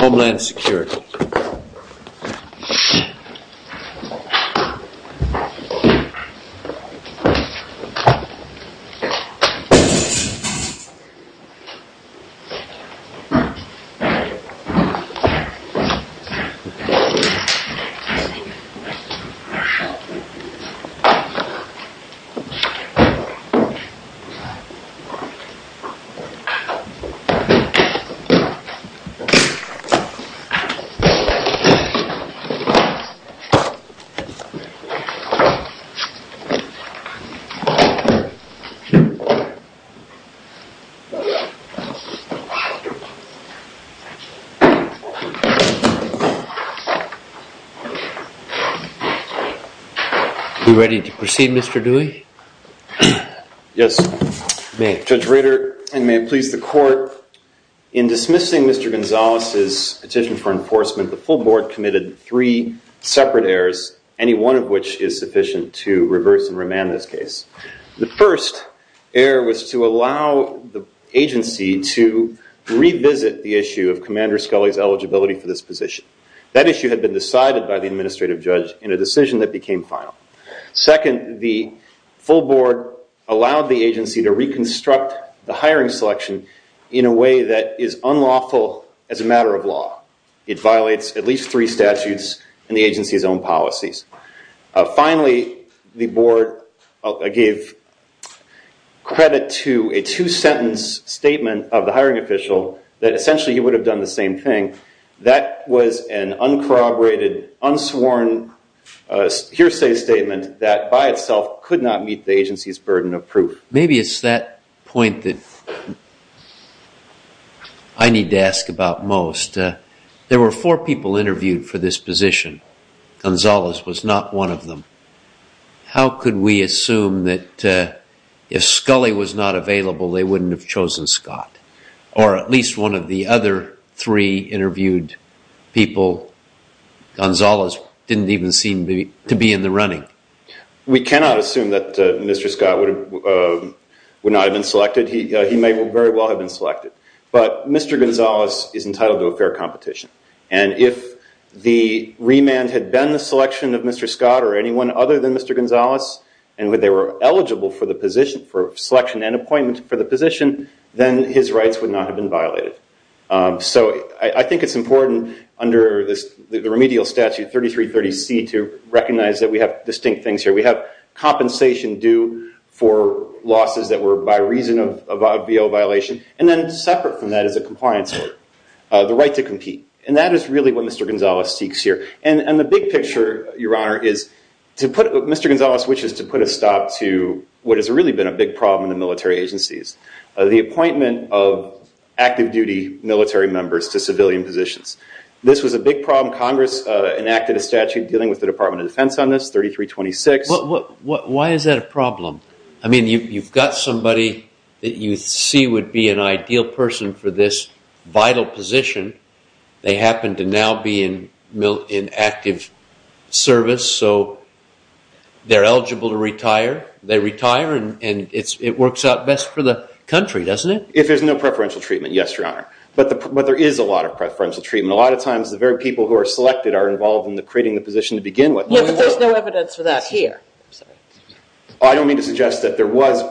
Homeland Security Are you ready to proceed, Mr. Dewey? Yes, Judge Rader, and may it please the court, in dismissing Mr. Gonzalez's petition for enforcement, the full board committed three separate errors, any one of which is sufficient to reverse and remand this case. The first error was to allow the agency to revisit the issue of Commander Scully's eligibility for this position. That issue had been decided by the administrative judge in a decision that became final. Second, the full board allowed the agency to reconstruct the hiring selection in a way that is unlawful as a matter of law. It violates at least three statutes and the agency's own policies. Finally, the board gave credit to a two-sentence statement of the hiring official that essentially he would have done the same thing. That was an uncorroborated, unsworn hearsay statement that by itself could not meet the agency's burden of proof. Maybe it's that point that I need to ask about most. There were four people interviewed for this position. Gonzalez was not one of them. How could we assume that if Scully was not available, they wouldn't have chosen Scott? Or at least one of the other three interviewed people, Gonzalez didn't even seem to be in the running. We cannot assume that Mr. Scott would not have been selected. He may very well have been selected. But Mr. Gonzalez is entitled to a fair competition. If the remand had been the selection of Mr. Scott or anyone other than Mr. Gonzalez, and they were eligible for the position, for selection and appointment for the position, then his rights would not have been violated. I think it's important under the remedial statute 3330C to recognize that we have distinct things here. We have compensation due for losses that were by reason of a VO violation, and then separate from that is a compliance order, the right to compete. That is really what Mr. Gonzalez seeks here. The big picture, Your Honor, is to put Mr. Gonzalez, which is to put a stop to what has really been a big problem in the military agencies, the appointment of active duty military members to civilian positions. This was a big problem. Congress enacted a statute dealing with the Department of Defense on this, 3326. Why is that a problem? You've got somebody that you see would be an ideal person for this vital position. They happen to now be in active service, so they're eligible to retire. They retire, and it works out best for the country, doesn't it? If there's no preferential treatment, yes, Your Honor, but there is a lot of preferential treatment. A lot of times, the very people who are selected are involved in creating the position to begin with. There's no evidence for that here. I'm sorry. I don't mean to suggest that there was...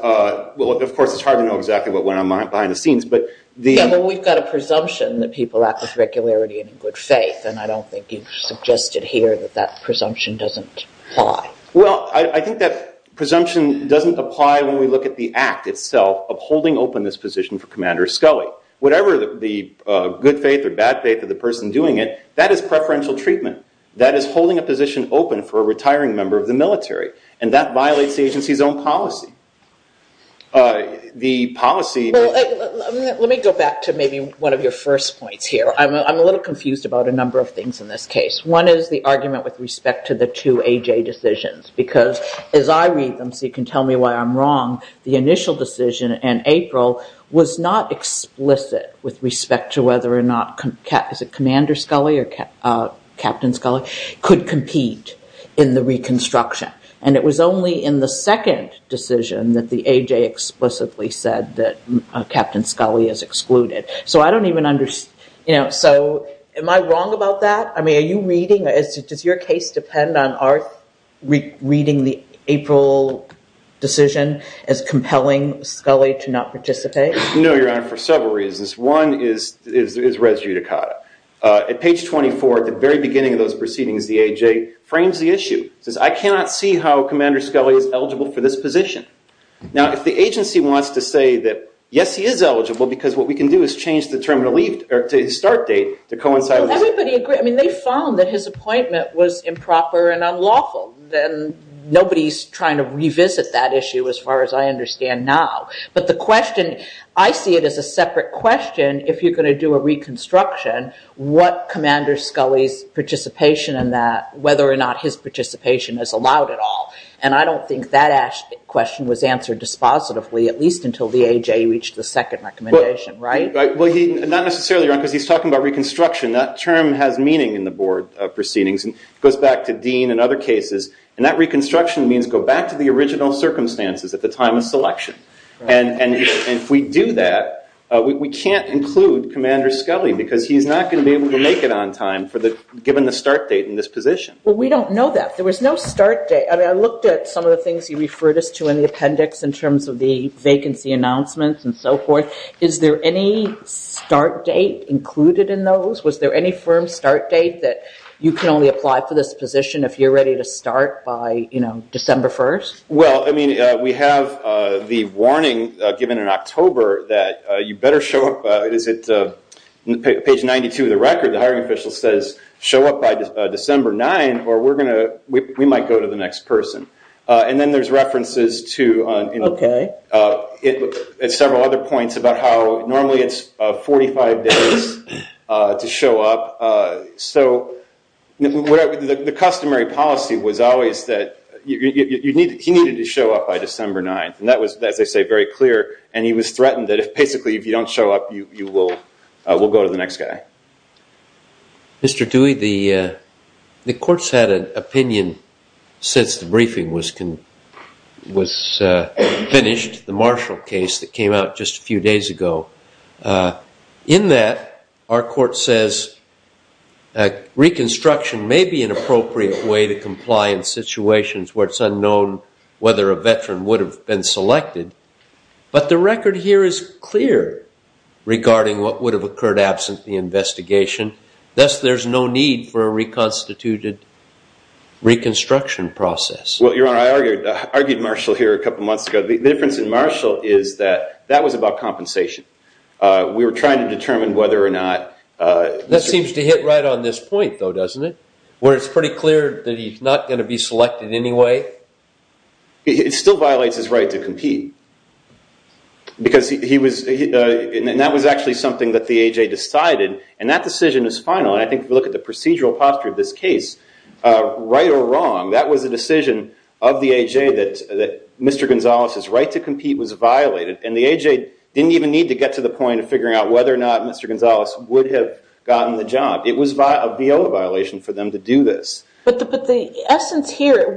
Well, of course, it's hard to know exactly what went on behind the scenes, but the- Yeah, but we've got a presumption that people act with regularity and in good faith, and I don't think you've suggested here that that presumption doesn't apply. Well, I think that presumption doesn't apply when we look at the act itself of holding open this position for Commander Scully. Whatever the good faith or bad faith of the person doing it, that is preferential treatment. That is holding a position open for a retiring member of the military, and that violates the agency's own policy. The policy- Let me go back to maybe one of your first points here. I'm a little confused about a number of things in this case. One is the argument with respect to the two AJ decisions, because as I read them, so you can tell me why I'm wrong, the initial decision in April was not explicit with respect to whether or not, is it Commander Scully or Captain Scully, could compete in the reconstruction. It was only in the second decision that the AJ explicitly said that Captain Scully is excluded. I don't even understand. Am I wrong about that? I mean, are you reading, does your case depend on our reading the April decision as compelling Scully to not participate? No, Your Honor, for several reasons. One is res judicata. At page 24, at the very beginning of those proceedings, the AJ frames the issue. It says, I cannot see how Commander Scully is eligible for this position. Now, if the agency wants to say that, yes, he is eligible, because what we can do is change the term to leave, or to start date, to coincide with- Everybody agrees. I mean, they found that his appointment was improper and unlawful, then nobody's trying to revisit that issue as far as I understand now. But the question, I see it as a separate question, if you're going to do a reconstruction, what not his participation is allowed at all. And I don't think that question was answered dispositively, at least until the AJ reached the second recommendation, right? Well, he, not necessarily, Your Honor, because he's talking about reconstruction. That term has meaning in the board of proceedings, and it goes back to Dean and other cases. And that reconstruction means go back to the original circumstances at the time of selection. And if we do that, we can't include Commander Scully, because he's not going to be able to make it on time for the, given the start date in this position. Well, we don't know that. There was no start date. I mean, I looked at some of the things you referred us to in the appendix in terms of the vacancy announcements and so forth. Is there any start date included in those? Was there any firm start date that you can only apply for this position if you're ready to start by December 1st? Well, I mean, we have the warning given in October that you better show up, is it, page 92 of the record, the hiring official says, show up by December 9, or we're going to, we might go to the next person. And then there's references to several other points about how normally it's 45 days to show up. So the customary policy was always that he needed to show up by December 9th. And that was, as I say, very clear. And he was threatened that if, basically, if you don't show up, you will, we'll go to the next guy. Mr. Dewey, the court's had an opinion since the briefing was finished, the Marshall case that came out just a few days ago. In that, our court says reconstruction may be an appropriate way to comply in situations where it's unknown whether a veteran would have been selected. But the record here is clear regarding what would have occurred absent the investigation. Thus, there's no need for a reconstituted reconstruction process. Well, Your Honor, I argued Marshall here a couple months ago. The difference in Marshall is that that was about compensation. We were trying to determine whether or not- That seems to hit right on this point, though, doesn't it? Where it's pretty clear that he's not going to be selected anyway? It still violates his right to compete. Because he was, and that was actually something that the AJ decided. And that decision is final. And I think if we look at the procedural posture of this case, right or wrong, that was a decision of the AJ that Mr. Gonzalez's right to compete was violated. And the AJ didn't even need to get to the point of figuring out whether or not Mr. Gonzalez would have gotten the job. It was a viola violation for them to do this. But the essence here,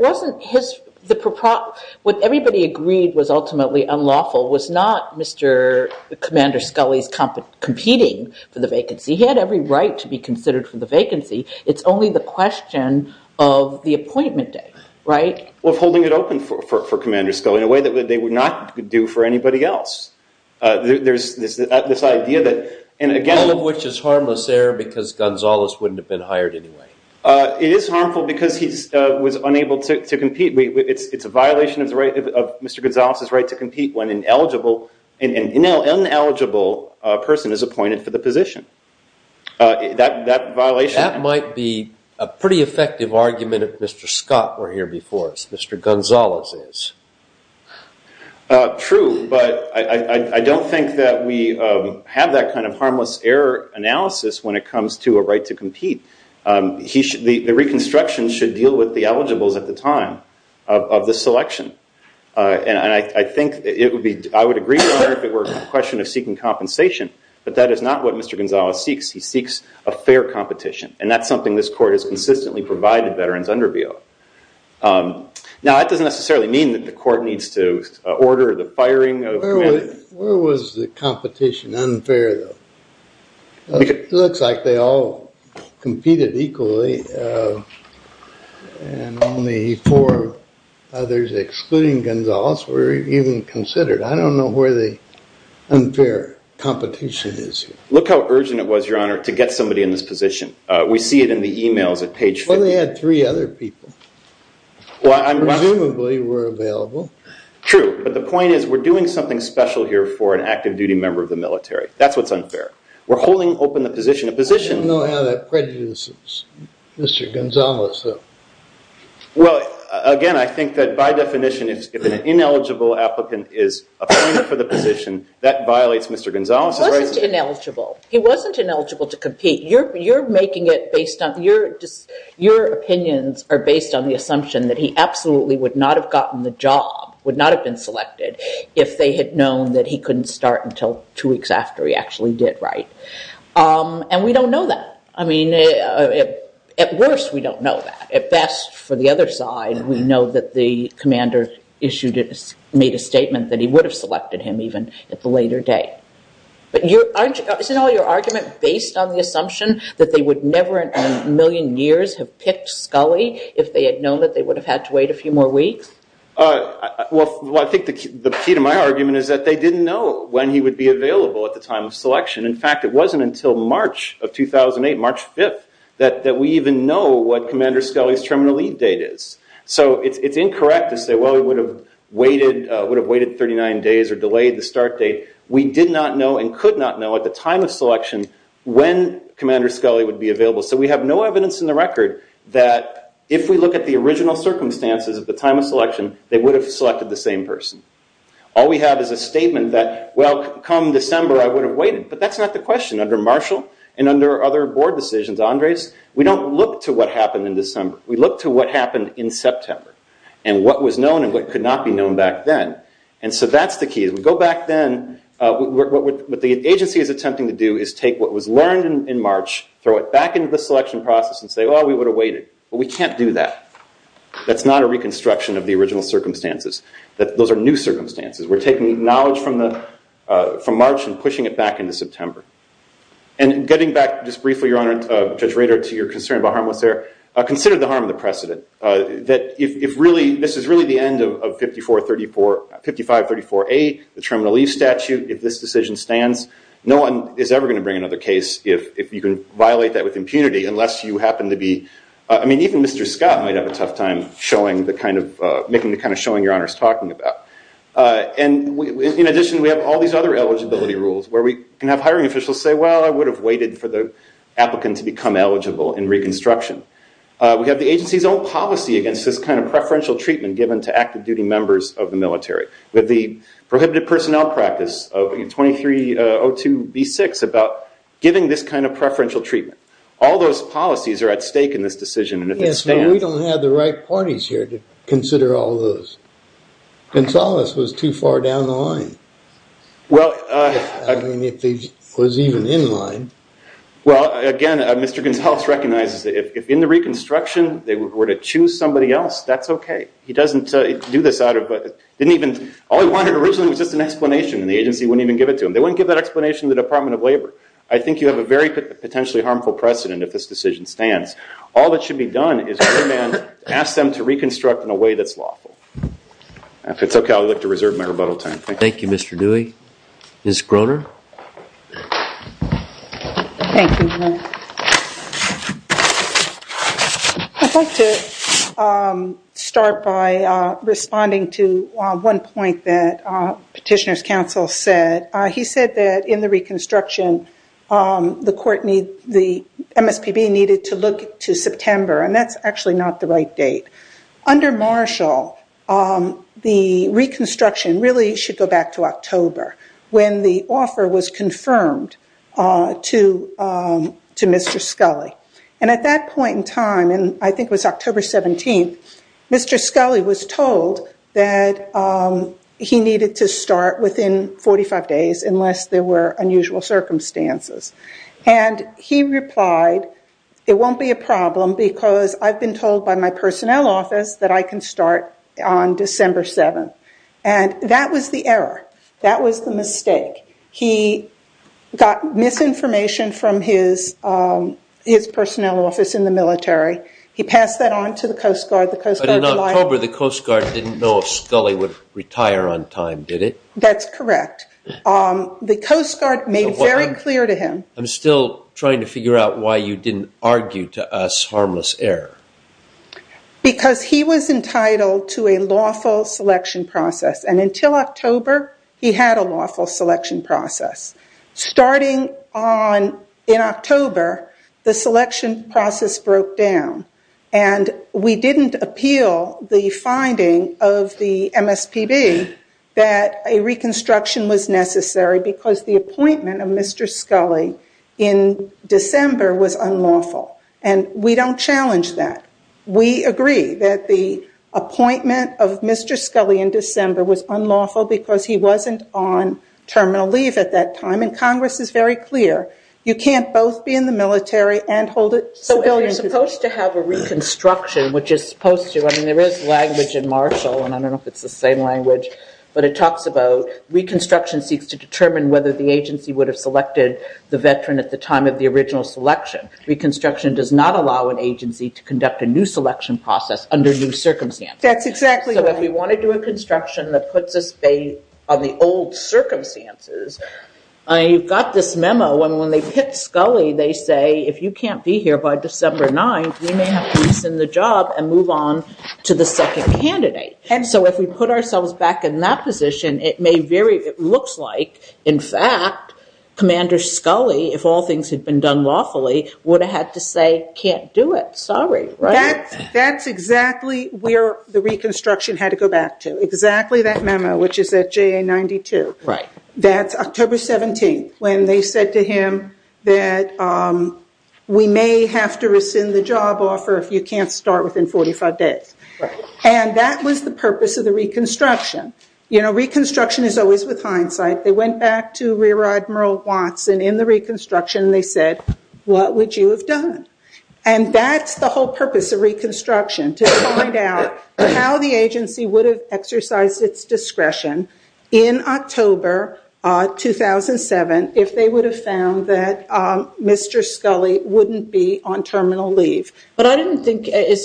what everybody agreed was ultimately unlawful was not Mr. Commander Scully's competing for the vacancy. He had every right to be considered for the vacancy. It's only the question of the appointment day, right? Of holding it open for Commander Scully in a way that they would not do for anybody else. There's this idea that, and again- Is this harmless error because Gonzalez wouldn't have been hired anyway? It is harmful because he was unable to compete. It's a violation of Mr. Gonzalez's right to compete when an eligible, an ineligible person is appointed for the position. That violation- That might be a pretty effective argument if Mr. Scott were here before us, Mr. Gonzalez is. True, but I don't think that we have that kind of harmless error analysis when it comes to a right to compete. The reconstruction should deal with the eligibles at the time of the selection. I think it would be, I would agree with that if it were a question of seeking compensation, but that is not what Mr. Gonzalez seeks. He seeks a fair competition, and that's something this court has consistently provided veterans under VO. Now, that doesn't necessarily mean that the court needs to order the firing of a commander. Where was the competition unfair, though? Looks like they all competed equally, and only four others, excluding Gonzalez, were even considered. I don't know where the unfair competition is. Look how urgent it was, Your Honor, to get somebody in this position. We see it in the emails at page 50. Well, they had three other people, who presumably were available. True, but the point is we're doing something special here for an active duty member of the military. That's what's unfair. We're holding open the position. I don't know how that prejudices Mr. Gonzalez, though. Well, again, I think that by definition, if an ineligible applicant is appointed for the position, that violates Mr. Gonzalez's rights. He wasn't ineligible. He wasn't ineligible to compete. Your opinions are based on the assumption that he absolutely would not have gotten the job, would not have been selected, if they had known that he couldn't start until two weeks after he actually did. We don't know that. I mean, at worst, we don't know that. At best, for the other side, we know that the commander made a statement that he would have selected him even at the later date. Isn't all your argument based on the assumption that they would never in a million years have picked Scully if they had known that they would have had to wait a few more weeks? Well, I think the key to my argument is that they didn't know when he would be available at the time of selection. In fact, it wasn't until March of 2008, March 5th, that we even know what Commander Scully's terminal leave date is. It's incorrect to say, well, he would have waited 39 days or delayed the start date. We did not know and could not know at the time of selection when Commander Scully would be available, so we have no evidence in the record that if we look at the original circumstances of the time of selection, they would have selected the same person. All we have is a statement that, well, come December, I would have waited, but that's not the question. Under Marshall and under other board decisions, Andres, we don't look to what happened in December. We look to what happened in September and what was known and what could not be known back then. That's the key. What the agency is attempting to do is take what was learned in March, throw it back into the selection process, and say, oh, we would have waited, but we can't do that. That's not a reconstruction of the original circumstances. Those are new circumstances. We're taking knowledge from March and pushing it back into September. Getting back just briefly, Your Honor, Judge Rader, to your concern about harmless error, consider the harm of the precedent. If this is really the end of 5534A, the terminal leave statute, if this decision stands, no one is ever going to bring another case if you can violate that with impunity unless you happen to be, I mean, even Mr. Scott might have a tough time making the kind of showing Your Honor is talking about. In addition, we have all these other eligibility rules where we can have hiring officials say, well, I would have waited for the applicant to become eligible in reconstruction. We have the agency's own policy against this kind of preferential treatment given to active duty members of the military, with the prohibited personnel practice of 2302B6 about giving this kind of preferential treatment. All those policies are at stake in this decision, and if it stands- Yes, but we don't have the right parties here to consider all those. Gonzales was too far down the line, I mean, if he was even in line. Well, again, Mr. Gonzales recognizes that if in the reconstruction they were to choose somebody else, that's okay. He doesn't do this out of, didn't even, all he wanted originally was just an explanation and the agency wouldn't even give it to him. They wouldn't give that explanation to the Department of Labor. I think you have a very potentially harmful precedent if this decision stands. All that should be done is have a man ask them to reconstruct in a way that's lawful. If it's okay, I would like to reserve my rebuttal time. Thank you, Mr. Dewey. Ms. Groner? Thank you. I'd like to start by responding to one point that Petitioner's Counsel said. He said that in the reconstruction, the MSPB needed to look to September, and that's actually not the right date. Under Marshall, the reconstruction really should go back to October when the offer was confirmed to Mr. Scully. At that point in time, I think it was October 17th, Mr. Scully was told that he needed to start within 45 days unless there were unusual circumstances. He replied, it won't be a problem because I've been told by my personnel office that I can start on December 7th. That was the error. That was the mistake. He got misinformation from his personnel office in the military. He passed that on to the Coast Guard. But in October, the Coast Guard didn't know if Scully would retire on time, did it? That's correct. The Coast Guard made very clear to him- I'm still trying to figure out why you didn't argue to us harmless error. Because he was entitled to a lawful selection process, and until October, he had a lawful selection process. Starting in October, the selection process broke down, and we didn't appeal the finding of the MSPB that a reconstruction was necessary because the appointment of Mr. Scully in December was unlawful. We don't challenge that. We agree that the appointment of Mr. Scully in December was unlawful because he wasn't on terminal leave at that time, and Congress is very clear. You can't both be in the military and hold a civilian position. If you're supposed to have a reconstruction, which is supposed to, I mean, there is language in Marshall, and I don't know if it's the same language, but it talks about reconstruction seeks to determine whether the agency would have selected the veteran at the time of the original selection. Reconstruction does not allow an agency to conduct a new selection process under new circumstances. That's exactly right. If we want to do a construction that puts us on the old circumstances, you've got this Scully, they say, if you can't be here by December 9th, we may have to resend the job and move on to the second candidate. If we put ourselves back in that position, it looks like, in fact, Commander Scully, if all things had been done lawfully, would have had to say, can't do it, sorry. That's exactly where the reconstruction had to go back to, exactly that memo, which is at JA 92. That's October 17th, when they said to him that we may have to rescind the job offer if you can't start within 45 days. That was the purpose of the reconstruction. Reconstruction is always with hindsight. They went back to Rear Admiral Watson in the reconstruction, and they said, what would you have done? That's the whole purpose of reconstruction, to find out how the agency would have exercised its discretion in October 2007 if they would have found that Mr. Scully wouldn't be on terminal leave. But I didn't think, is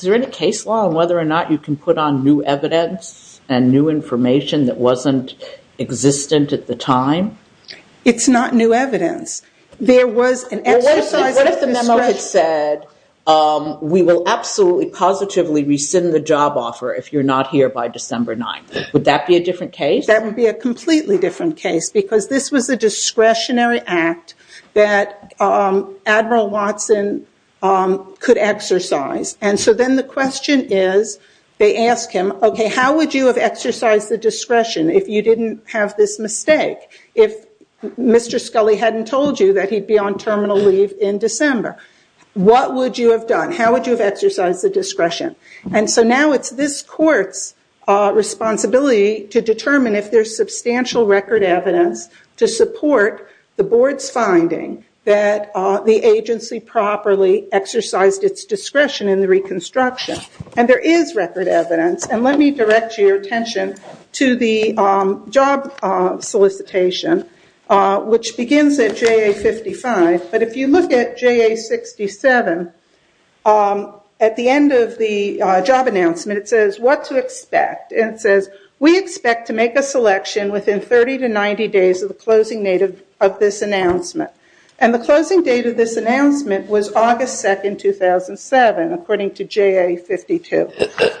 there any case law on whether or not you can put on new evidence and new information that wasn't existent at the time? It's not new evidence. There was an exercise of discretion. What if the memo had said, we will absolutely, positively rescind the job offer if you're not here by December 9th? Would that be a different case? That would be a completely different case, because this was a discretionary act that Admiral Watson could exercise. And so then the question is, they ask him, okay, how would you have exercised the discretion if you didn't have this mistake? If Mr. Scully hadn't told you that he'd be on terminal leave in December, what would you have done? How would you have exercised the discretion? And so now it's this court's responsibility to determine if there's substantial record evidence to support the board's finding that the agency properly exercised its discretion in the reconstruction. And there is record evidence. And let me direct your attention to the job solicitation, which begins at JA 55. But if you look at JA 67, at the end of the job announcement, it says, what to expect? And it says, we expect to make a selection within 30 to 90 days of the closing date of this announcement. And the closing date of this announcement was August 2nd, 2007, according to JA 52.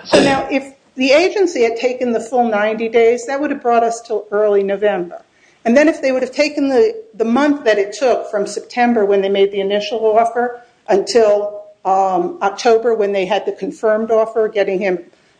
So now if the agency had taken the full 90 days, that would have brought us to early November. And then if they would have taken the month that it took from September, when they made the initial offer, until October, when they had the confirmed offer, getting him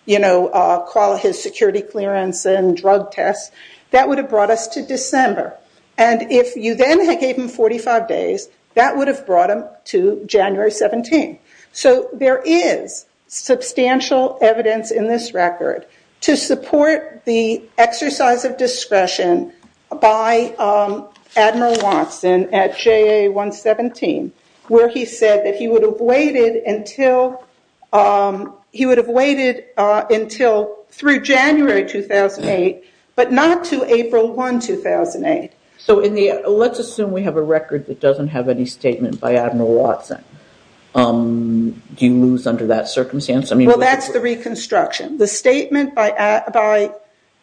to call his security clearance and drug tests, that would have brought us to December. And if you then gave him 45 days, that would have brought him to January 17. So there is substantial evidence in this record to support the exercise of discretion by Admiral Watson at JA 117, where he said that he would have waited until through January 2008, but not to April 1, 2008. So let's assume we have a record that doesn't have any statement by Admiral Watson. Do you lose under that circumstance? Well, that's the reconstruction. The statement by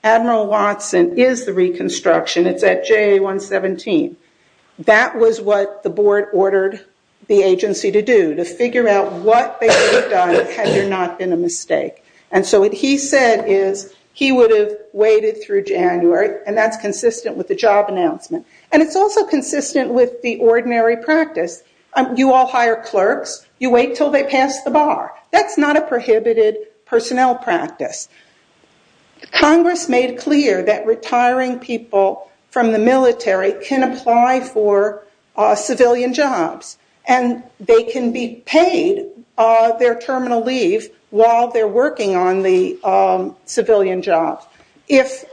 Admiral Watson is the reconstruction. It's at JA 117. That was what the board ordered the agency to do, to figure out what they would have done had there not been a mistake. And so what he said is, he would have waited through January, and that's consistent with the job announcement, and it's also consistent with the ordinary practice. You all hire clerks. You wait until they pass the bar. That's not a prohibited personnel practice. Congress made clear that retiring people from the military can apply for civilian jobs, and they can be paid their terminal leave while they're working on the civilian job. If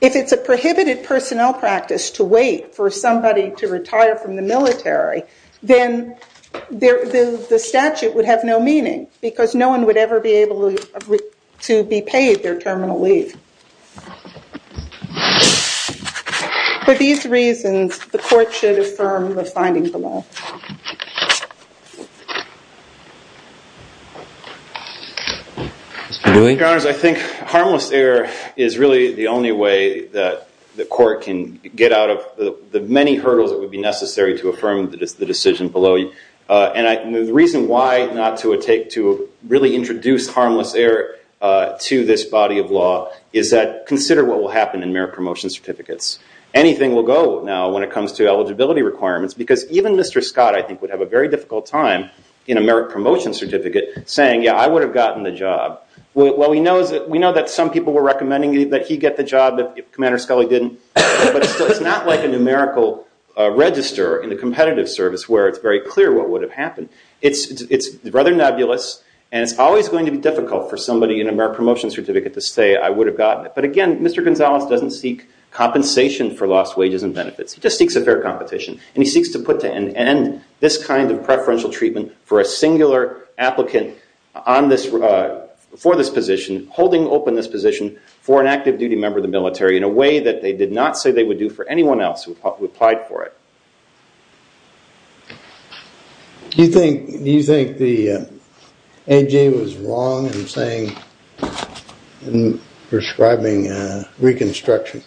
it's a prohibited personnel practice to wait for somebody to retire from the military, then the statute would have no meaning, because no one would ever be able to be paid their terminal leave. For these reasons, the court should affirm the findings of the law. Mr. Dewey? Your Honors, I think harmless error is really the only way that the court can get out of the many hurdles that would be necessary to affirm the decision below. And the reason why not to really introduce harmless error to this body of law is that consider what will happen in merit promotion certificates. Anything will go now when it comes to eligibility requirements, because even Mr. Scott, I think, would have a very difficult time in a merit promotion certificate saying, yeah, I would have gotten the job. Well, we know that some people were recommending that he get the job, but Commander Scully didn't. But it's not like a numerical register in a competitive service where it's very clear what would have happened. It's rather nebulous, and it's always going to be difficult for somebody in a merit promotion certificate to say, I would have gotten it. But again, Mr. Gonzalez doesn't seek compensation for lost wages and benefits. He just seeks a fair competition. And he seeks to put to an end this kind of preferential treatment for a singular applicant for this position, holding open this position for an active duty member of the military in a way that they did not say they would do for anyone else who applied for it. Do you think the AG was wrong in saying, in prescribing reconstruction?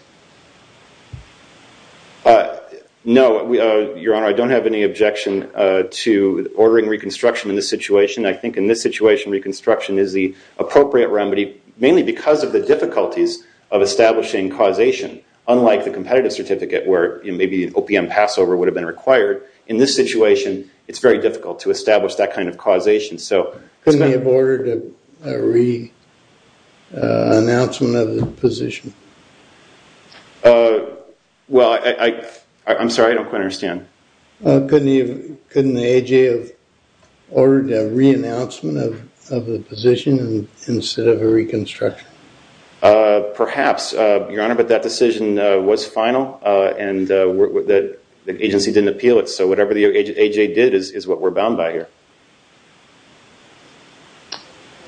No, Your Honor, I don't have any objection to ordering reconstruction in this situation. I think in this situation, reconstruction is the appropriate remedy, mainly because of the difficulties of establishing causation, unlike the competitive certificate where maybe an OPM passover would have been required. In this situation, it's very difficult to establish that kind of causation. So it's not- Couldn't he have ordered a re-announcement of the position? Well, I'm sorry, I don't quite understand. Couldn't the AJ have ordered a re-announcement of the position instead of a reconstruction? Perhaps, Your Honor, but that decision was final, and the agency didn't appeal it. So whatever the AJ did is what we're bound by here.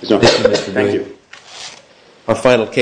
Thank you.